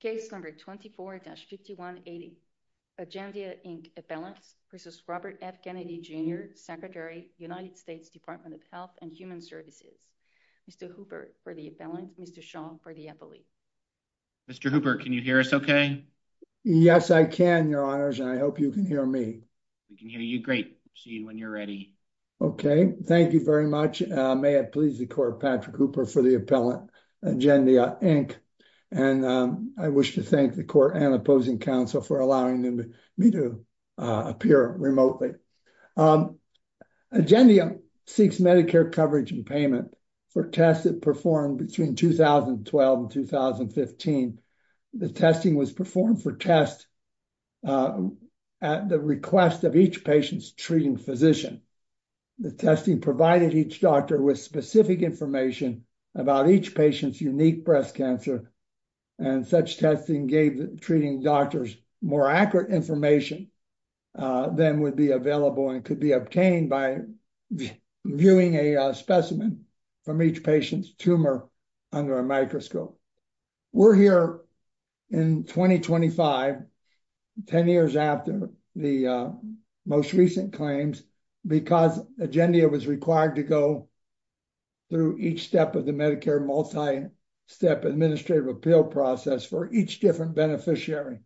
Case number 24-5180. Agendia Inc. Appellants v. Robert F. Kennedy Jr., Secretary, United States Department of Health and Human Services. Mr. Hooper for the appellant, Mr. Shaw for the appellee. Mr. Hooper, can you hear us okay? Yes, I can, your honors, and I hope you can hear me. We can hear you great. See you when you're ready. Okay, thank you very much. May it please the I wish to thank the court and opposing counsel for allowing me to appear remotely. Agendia seeks Medicare coverage and payment for tests that performed between 2012 and 2015. The testing was performed for tests at the request of each patient's treating physician. The testing provided each doctor with specific information about each patient's unique breast cancer, and such testing gave the treating doctors more accurate information than would be available and could be obtained by viewing a specimen from each patient's tumor under a microscope. We're here in 2025, 10 years after the most recent claims, because Agendia was required to go through each step of the Medicare multi-step administrative appeal process for each different beneficiary.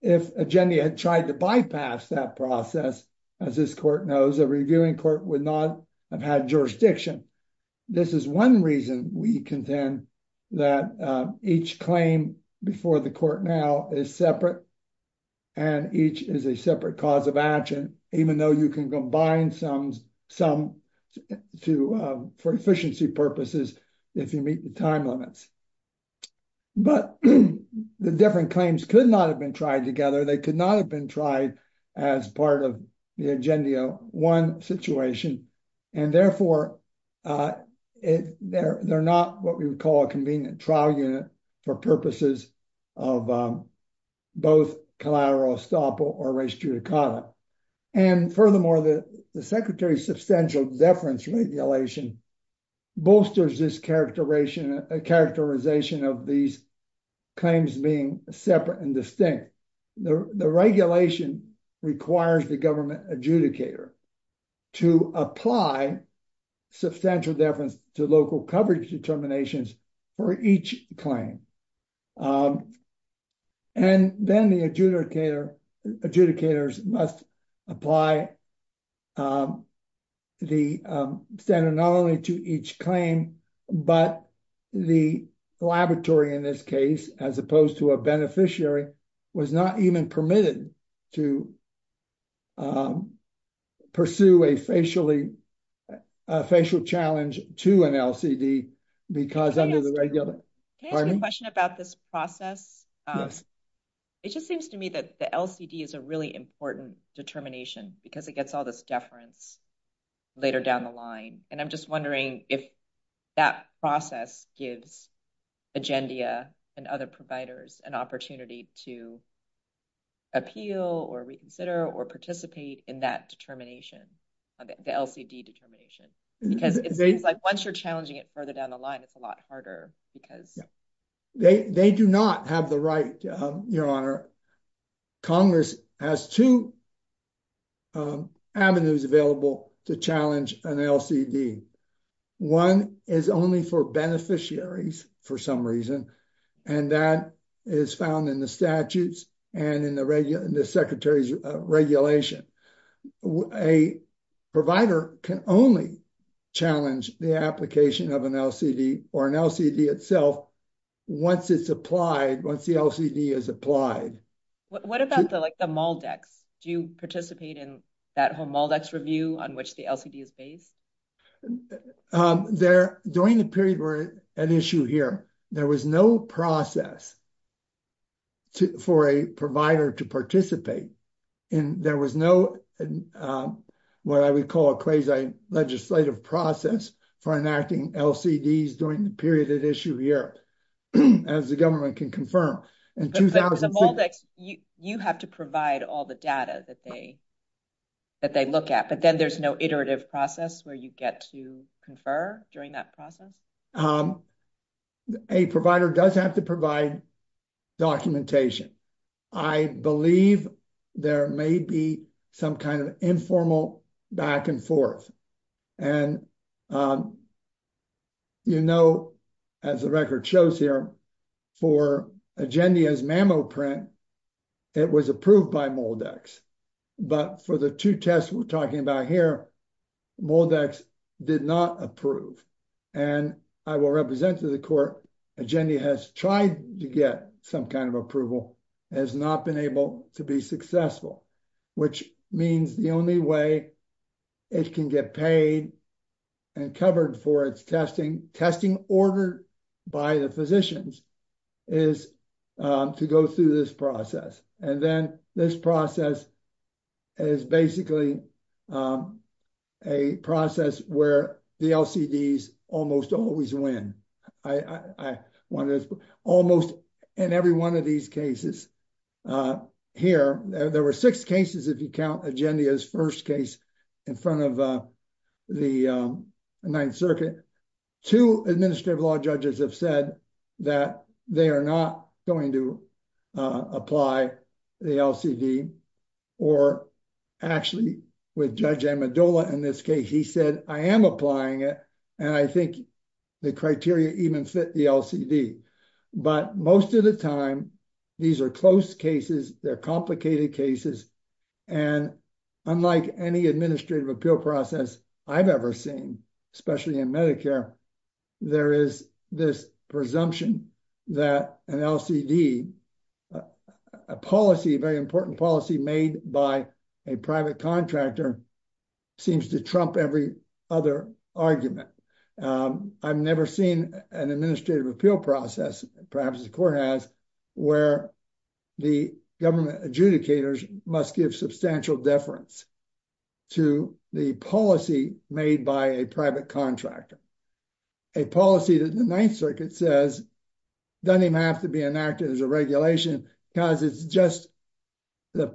If Agendia had tried to bypass that process, as this court knows, a reviewing court would not have had jurisdiction. This is one reason we contend that each claim before the court now is separate, and each is a separate cause of action, even though you can bind some for efficiency purposes if you meet the time limits. But the different claims could not have been tried together. They could not have been tried as part of the Agendia 1 situation, and therefore they're not what we would call a convenient trial unit for purposes of both collateral estoppel or res judicata. And furthermore, the Secretary's Substantial Deference Regulation bolsters this characterization of these claims being separate and distinct. The regulation requires the government adjudicator to apply substantial deference to local coverage determinations for each claim. And then the adjudicators must apply the standard not only to each claim, but the laboratory in this case, as opposed to a beneficiary, was not even permitted to pursue a facial challenge to an LCD, because under the regular... Can I ask you a question about this process? It just seems to me that the LCD is a really important determination, because it gets all this deference later down the line. And I'm just if that process gives Agendia and other providers an opportunity to appeal or reconsider or participate in that determination, the LCD determination, because it's like once you're challenging it further down the line, it's a lot harder because... They do not have the right, Your Honor. Congress has two avenues available to challenge an LCD. One is only for beneficiaries, for some reason, and that is found in the statutes and in the Secretary's regulation. A provider can only challenge the application of an LCD or an LCD itself once it's applied, once the LCD is applied. What about the MALDEX? Do you participate in that whole MALDEX review on which the LCD is based? During the period we're at issue here, there was no process for a provider to participate. There was no what I would call a quasi-legislative process for enacting LCDs during the period at issue here, as the government can confirm. You have to provide all the data that they look at, but then there's no iterative process where you get to confer during that process? A provider does have to provide documentation. I believe there may be some kind of informal back and forth. You know, as the record shows here, for Agendia's MAMO print, it was approved by MALDEX, but for the two tests we're talking about here, MALDEX did not approve. I will represent to the court, Agendia has tried to get some kind approval, has not been able to be successful, which means the only way it can get paid and covered for its testing, testing ordered by the physicians, is to go through this process. And then this process is basically a process where the LCDs almost always win. I want to almost in every one of these cases here, there were six cases, if you count Agendia's first case in front of the Ninth Circuit, two administrative law judges have said that they are not going to apply the LCD, or actually with Judge Amendola in this case, he said, I am applying it, and I think the criteria even fit the LCD. But most of the time, these are close cases, they're complicated cases, and unlike any administrative appeal process I've ever seen, especially in Medicare, there is this presumption that an LCD, a policy, a very important policy made by a private contractor, seems to trump every other argument. I've never seen an administrative appeal process, perhaps the court has, where the government adjudicators must give substantial deference to the policy made by a private contractor. A policy that the Ninth Circuit says doesn't even have to be enacted as a regulation, because it's just the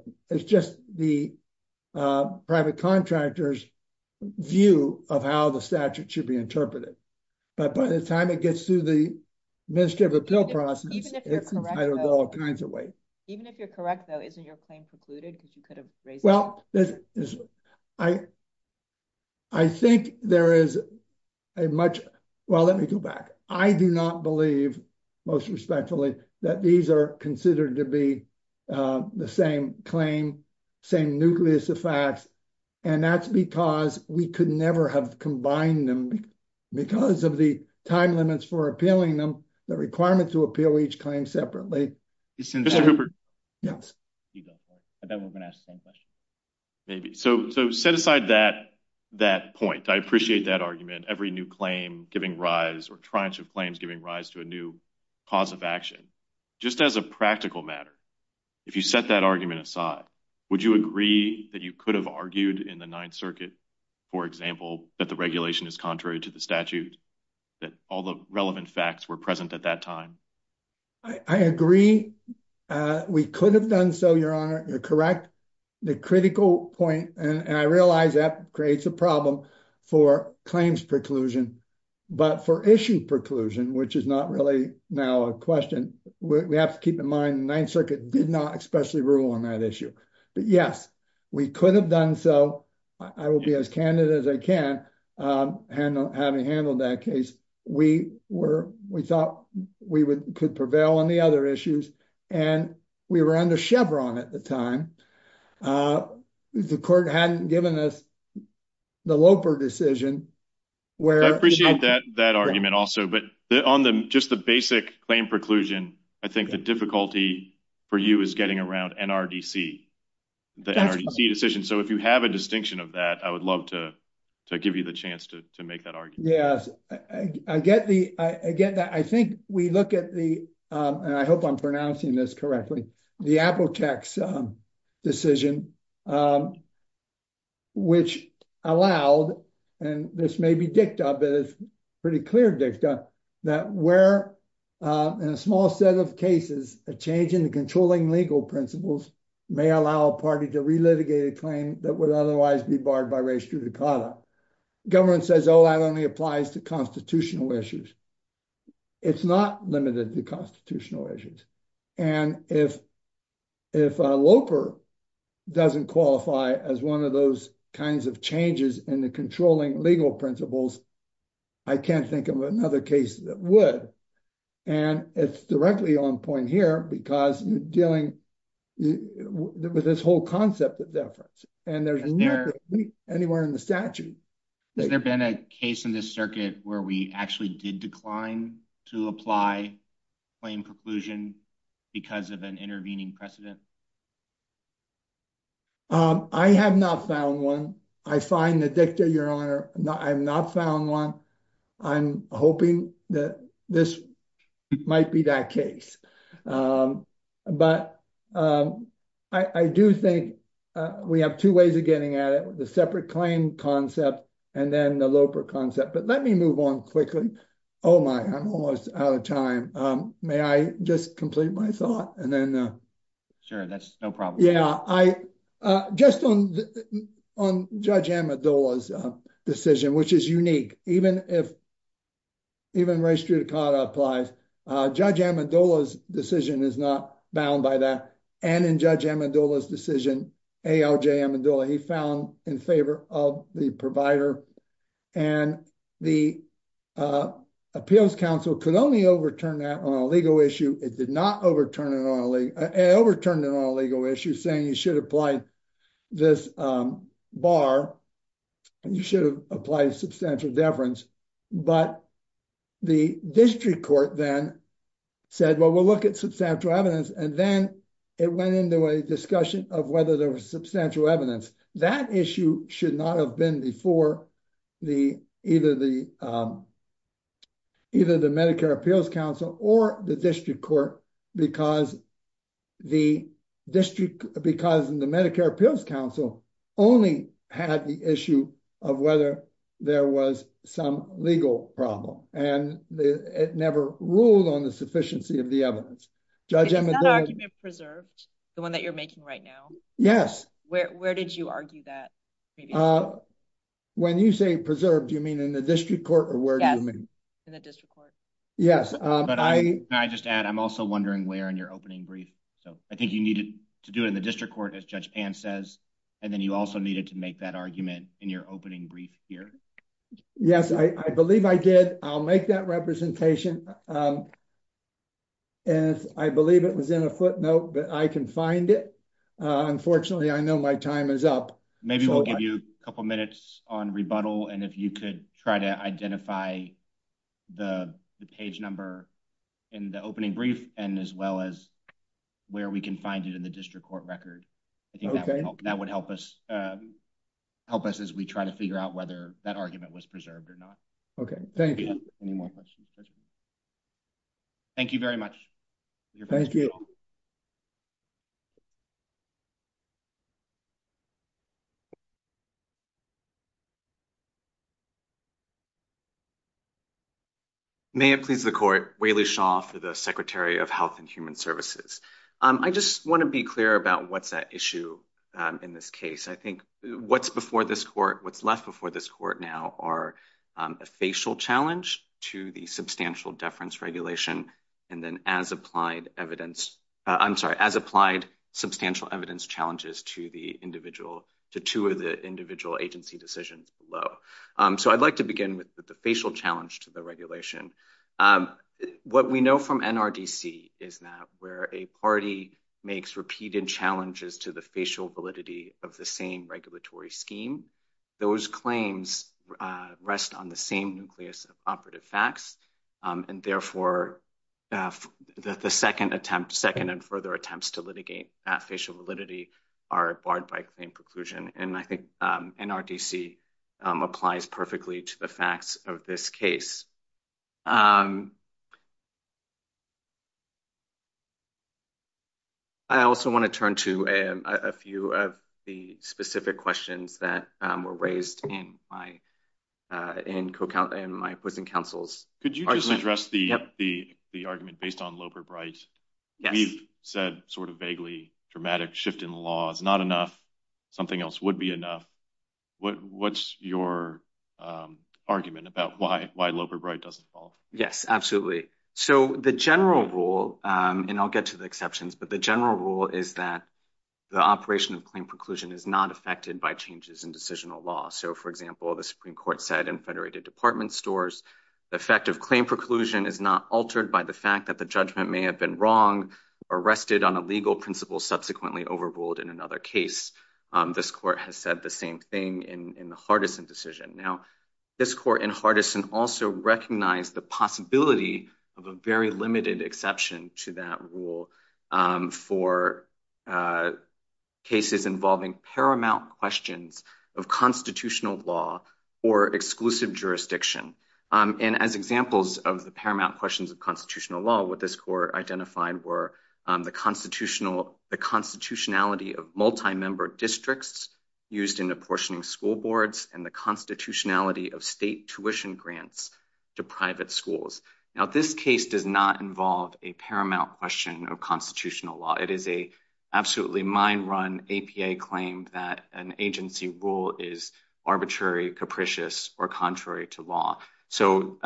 private contractor's view of how the statute should be interpreted. But by the time it gets through the administrative appeal process, it's entitled to all kinds of weight. Even if you're correct though, isn't your claim precluded because you could have raised it? Well, I think there is a much, well, let me go back. I do not believe, most respectfully, that these are considered to be the same claim, same nucleus of facts, and that's because we could never have combined them because of the time limits for appealing them, the requirement to appeal each claim separately. Mr. Cooper? Yes. I bet we're going to ask the same question. Maybe. So set aside that point. I appreciate that argument, every new claim giving rise, or triage of claims giving rise to a new cause of action. Just as a practical matter, if you set that argument aside, would you agree that you could have argued in the Ninth Circuit, for example, that the regulation is contrary to the statute, that all the relevant facts were present at that time? I agree. We could have done so, Your Honor. You're correct. The critical point, and I realize that creates a problem for claims preclusion, but for issue preclusion, which is not really now a question, we have to keep in mind the Ninth Circuit did not especially rule on that issue. But yes, we could have done so. I will be as candid as I can, having handled that case. We thought we could prevail on the other issues, and we were under Chevron at the time. The court hadn't given us the Loper decision. I appreciate that argument also, but on just the basic claim preclusion, I think the difficulty for you is getting around NRDC, the NRDC decision. So if you have a distinction of that, I would love to give you the chance to make that argument. Yes, I get that. I think we look at the, and I hope I'm pronouncing this correctly, the Apple tax decision, which allowed, and this may be dicta, but it's pretty clear dicta, that where in a small set of cases, a change in the controlling legal principles may allow a party to relitigate a claim that would otherwise be barred by res judicata. The government says, oh, that only applies to constitutional issues. It's not limited to constitutional issues. And if Loper doesn't qualify as one of those kinds of changes in the controlling legal principles, I can't think of another case that would. And it's directly on point here, because you're dealing with this whole concept of deference. And there's nothing anywhere in the statute. Has there been a case in this circuit where we actually did decline to apply claim preclusion because of an intervening precedent? I have not found one. I find the dicta, your honor. I've not found one. I'm hoping that this might be that case. But I do think we have two ways of getting at it, the separate claim concept and then the Loper concept. But let me move on quickly. Oh, my, I'm almost out of time. May I just complete my thought and then. Sure, that's no problem. Yeah, just on Judge Amador's decision, which is unique, even if. Even race to apply, Judge Amador's decision is not bound by that. And in Judge Amador's decision, A.J. Amador, he found in favor of the provider and the appeals counsel could only overturn that on a legal issue. It did not overturn it on a overturned legal issue saying you should apply this bar and you should apply substantial deference. But the district court then said, well, we'll look at substantial evidence. And then it went into a discussion of whether there was substantial evidence. That issue should not have been before the either the. Either the Medicare Appeals Council or the district court, because the district, because the Medicare Appeals Council only had the issue of whether there was some legal problem and it never ruled on the sufficiency of the evidence. Judge Amador preserved the one that you're making right now. Yes. Where did you argue that? Uh, when you say preserved, you mean in the district court or where? In the district court. Yes. But I just add I'm also wondering where in your opening brief. So I think you needed to do it in the district court, as Judge Pan says. And then you also needed to make that argument in your opening brief here. Yes, I believe I did. I'll make that representation. And I believe it was in a footnote, but I can find it. Unfortunately, I know my time is up. Maybe we'll give you a couple of minutes on rebuttal. And if you could try to identify the page number in the opening brief and as well as where we can find it in the district court record, I think that would help us help us as we try to figure out whether that argument was preserved or not. OK, thank you. Any more questions? Thank you very much. Thank you. May it please the court, Wai-Li Shaw for the Secretary of Health and Human Services. I just want to be clear about what's at issue in this case. I think what's before this court, what's left before this court now are a facial challenge to the substantial deference regulation and then as applied evidence, I'm sorry, as applied substantial evidence challenges to the two of the individual agency decisions below. So I'd like to begin with the facial challenge to the regulation. What we know from NRDC is that where a party makes repeated challenges to the facial validity of the same regulatory scheme, those claims rest on the same nucleus of operative facts. And therefore, the second and further attempts to litigate that facial validity are barred by claim preclusion. And I think NRDC applies perfectly to the facts of this case. I also want to turn to a few of the specific questions that were raised in my opposing counsel's argument. Could you just address the argument based on Yes. We've said sort of vaguely dramatic shift in law is not enough. Something else would be enough. What's your argument about why Loper-Bright doesn't fall? Yes, absolutely. So the general rule, and I'll get to the exceptions, but the general rule is that the operation of claim preclusion is not affected by changes in decisional law. So for example, the Supreme Court said in federated department stores, the effect of claim preclusion is not altered by the fact that the may have been wrong, arrested on a legal principle, subsequently overruled in another case. This court has said the same thing in the Hardison decision. Now, this court in Hardison also recognized the possibility of a very limited exception to that rule for cases involving paramount questions of constitutional law or exclusive jurisdiction. And as examples of the identified were the constitutionality of multi-member districts used in apportioning school boards and the constitutionality of state tuition grants to private schools. Now, this case does not involve a paramount question of constitutional law. It is an absolutely mind-run APA claim that an agency rule is arbitrary, capricious, or contrary to law. So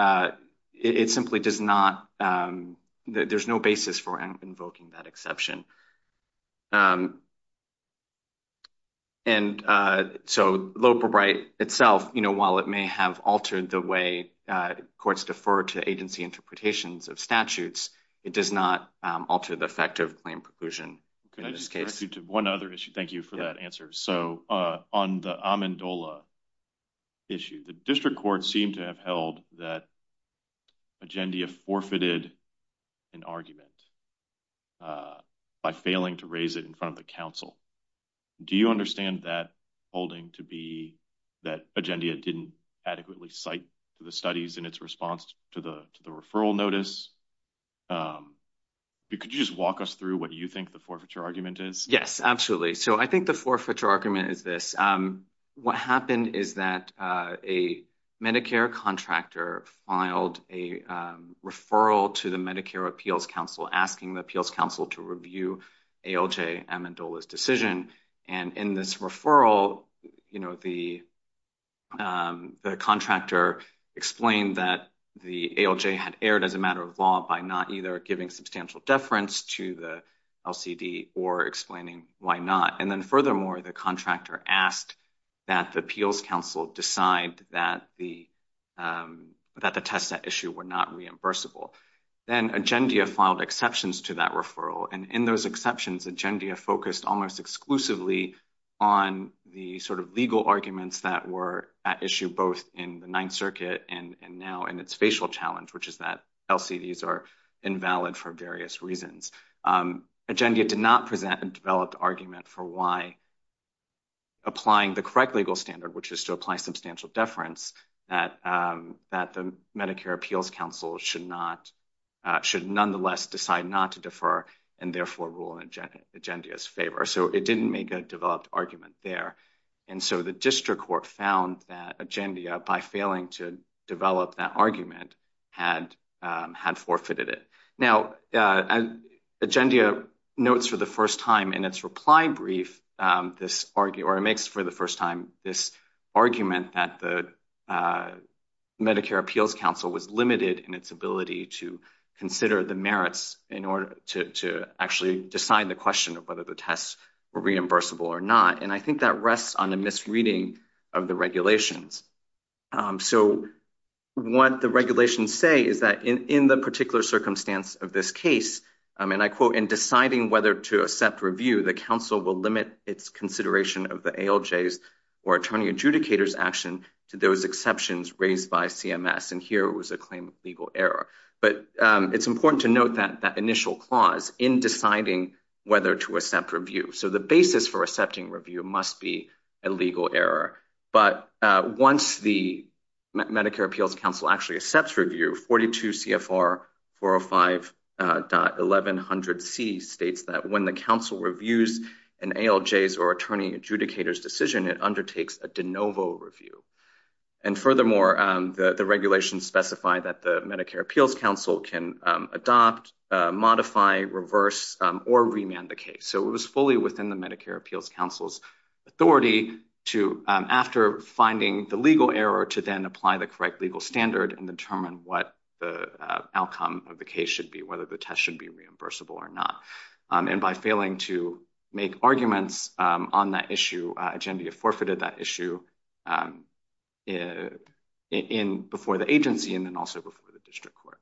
it simply does not, there's no basis for invoking that exception. And so low probate itself, while it may have altered the way courts defer to agency interpretations of statutes, it does not alter the effect of claim preclusion in this case. One other issue. Thank you for that answer. So on the Amendola issue, the district court seemed to have held that Agendia forfeited an argument by failing to raise it in front of the council. Do you understand that holding to be that Agendia didn't adequately cite to the studies in its response to the referral notice? Could you just walk us through what you think the forfeiture argument is this? What happened is that a Medicare contractor filed a referral to the Medicare appeals council asking the appeals council to review ALJ Amendola's decision. And in this referral, you know, the contractor explained that the ALJ had erred as a matter of law by not either giving substantial deference to the LCD or explaining why not. And then furthermore, the contractor asked that the appeals council decide that the test that issue were not reimbursable. Then Agendia filed exceptions to that referral. And in those exceptions, Agendia focused almost exclusively on the sort of legal arguments that were at issue both in the Ninth Circuit and now in its facial challenge, which is that LCDs are invalid for various reasons. Agendia did not present a developed argument for why applying the correct legal standard, which is to apply substantial deference, that the Medicare appeals council should not should nonetheless decide not to defer and therefore rule in Agendia's favor. So it didn't make a developed argument there. And so the district court found that Agendia by failing to develop that argument had forfeited it. Now, Agendia notes for the first time in its reply brief, this argument, or it makes for the first time this argument that the Medicare appeals council was limited in its ability to consider the merits in order to actually decide the question of whether the tests were reimbursable or not. And I think that rests on a misreading of the regulations. So what the regulations say is that in the particular circumstance of this case, and I quote, in deciding whether to accept review, the council will limit its consideration of the ALJs or attorney adjudicators action to those exceptions raised by CMS. And here it was a claim of legal error. But it's important to note that that initial clause in deciding whether to accept once the Medicare appeals council actually accepts review 42 CFR 405.1100C states that when the council reviews an ALJs or attorney adjudicators decision, it undertakes a de novo review. And furthermore, the regulations specify that the Medicare appeals council can adopt, modify, reverse, or remand the case. So it was fully within the Medicare appeals council's authority to after finding the legal error to then apply the correct legal standard and determine what the outcome of the case should be, whether the test should be reimbursable or not. And by failing to make arguments on that issue, agenda forfeited that issue in before the agency and then also before the district court.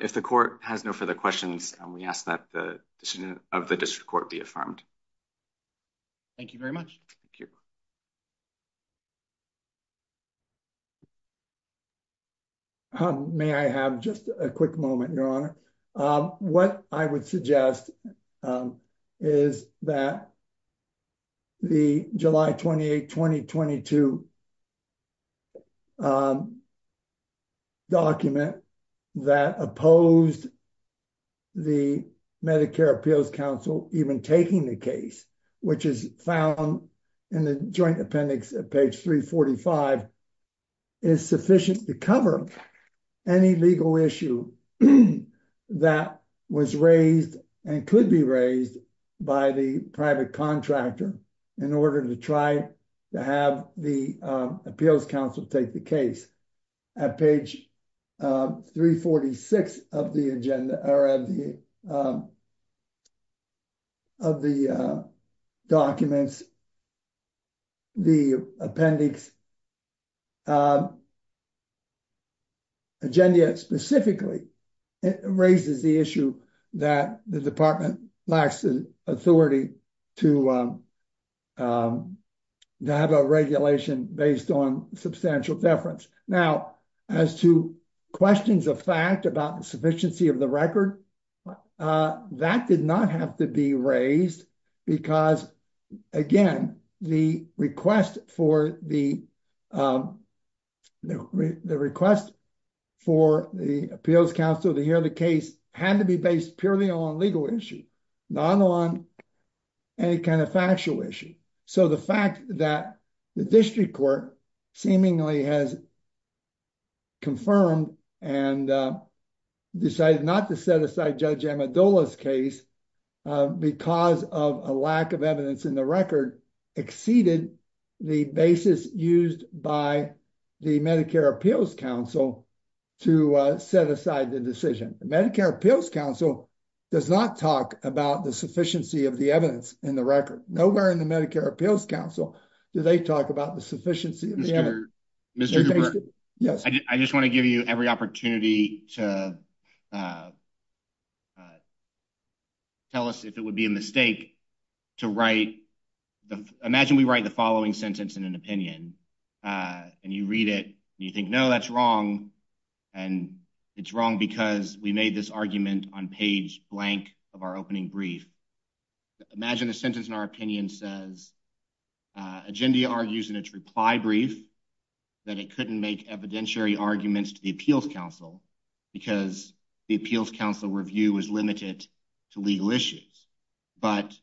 If the court has no further questions, we ask that the decision of the district court be affirmed. Thank you very much. Thank you. May I have just a quick moment, Your Honor? What I would suggest is that the July 28, 2022 document that opposed the Medicare appeals council even taking the case, which is found in the joint appendix at page 345 is sufficient to cover any legal issue that was raised and could be appeals council take the case at page 346 of the agenda or of the documents, the appendix. Agenda specifically raises the issue that the department lacks the authority to have a regulation based on substantial deference. Now, as to questions of fact about the sufficiency of the record, that did not have to be raised because, again, the request for the appeals council to hear the case had to be based purely on legal issue, not on any kind of factual issue. So the fact that the district court seemingly has confirmed and decided not to set aside Judge Amidala's case because of a lack of evidence in the record exceeded the basis used by the Medicare appeals council to set aside the decision. The Medicare appeals council does not talk about the sufficiency of the evidence in the record. Nowhere in the Medicare appeals council do they talk about the sufficiency of the evidence. I just want to give you every opportunity to tell us if it would be a mistake to write, imagine we write the following sentence in an opinion and you read it and you think, no, that's wrong and it's wrong because we made this argument on page blank of our opening brief. Imagine the sentence in our opinion says agenda argues in its reply brief that it couldn't make evidentiary arguments to the appeals council because the appeals council review was limited to legal issues, but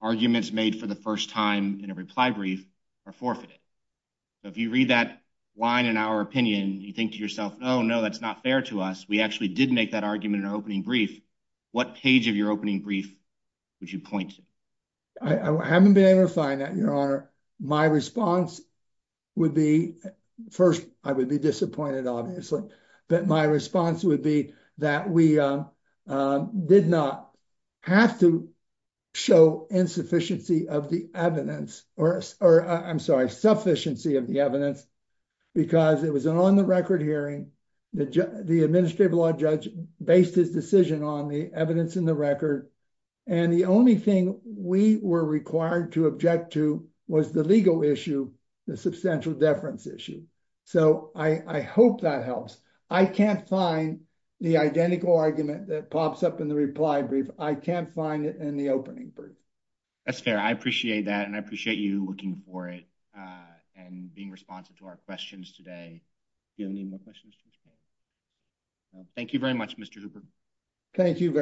arguments made for the first time in a reply brief are forfeited. So if you read that line in our opinion, you think to yourself, oh no, that's not fair to us. We actually did make that argument in our opening brief. What page of your opening brief would you point to? I haven't been able to find that, your honor. My response would be, first I would be disappointed obviously, but my response would be that we did not have to show insufficiency of the evidence or I'm sorry, sufficiency of the evidence because it was an on the record hearing. The administrative law judge based his decision on the evidence in the record and the only thing we were required to object to was the legal issue, the substantial deference issue. So I hope that helps. I can't find the identical argument that pops up in the reply brief. I can't find it in the opening brief. That's fair. I appreciate that and I appreciate you looking for it and being responsive to our questions today. Do you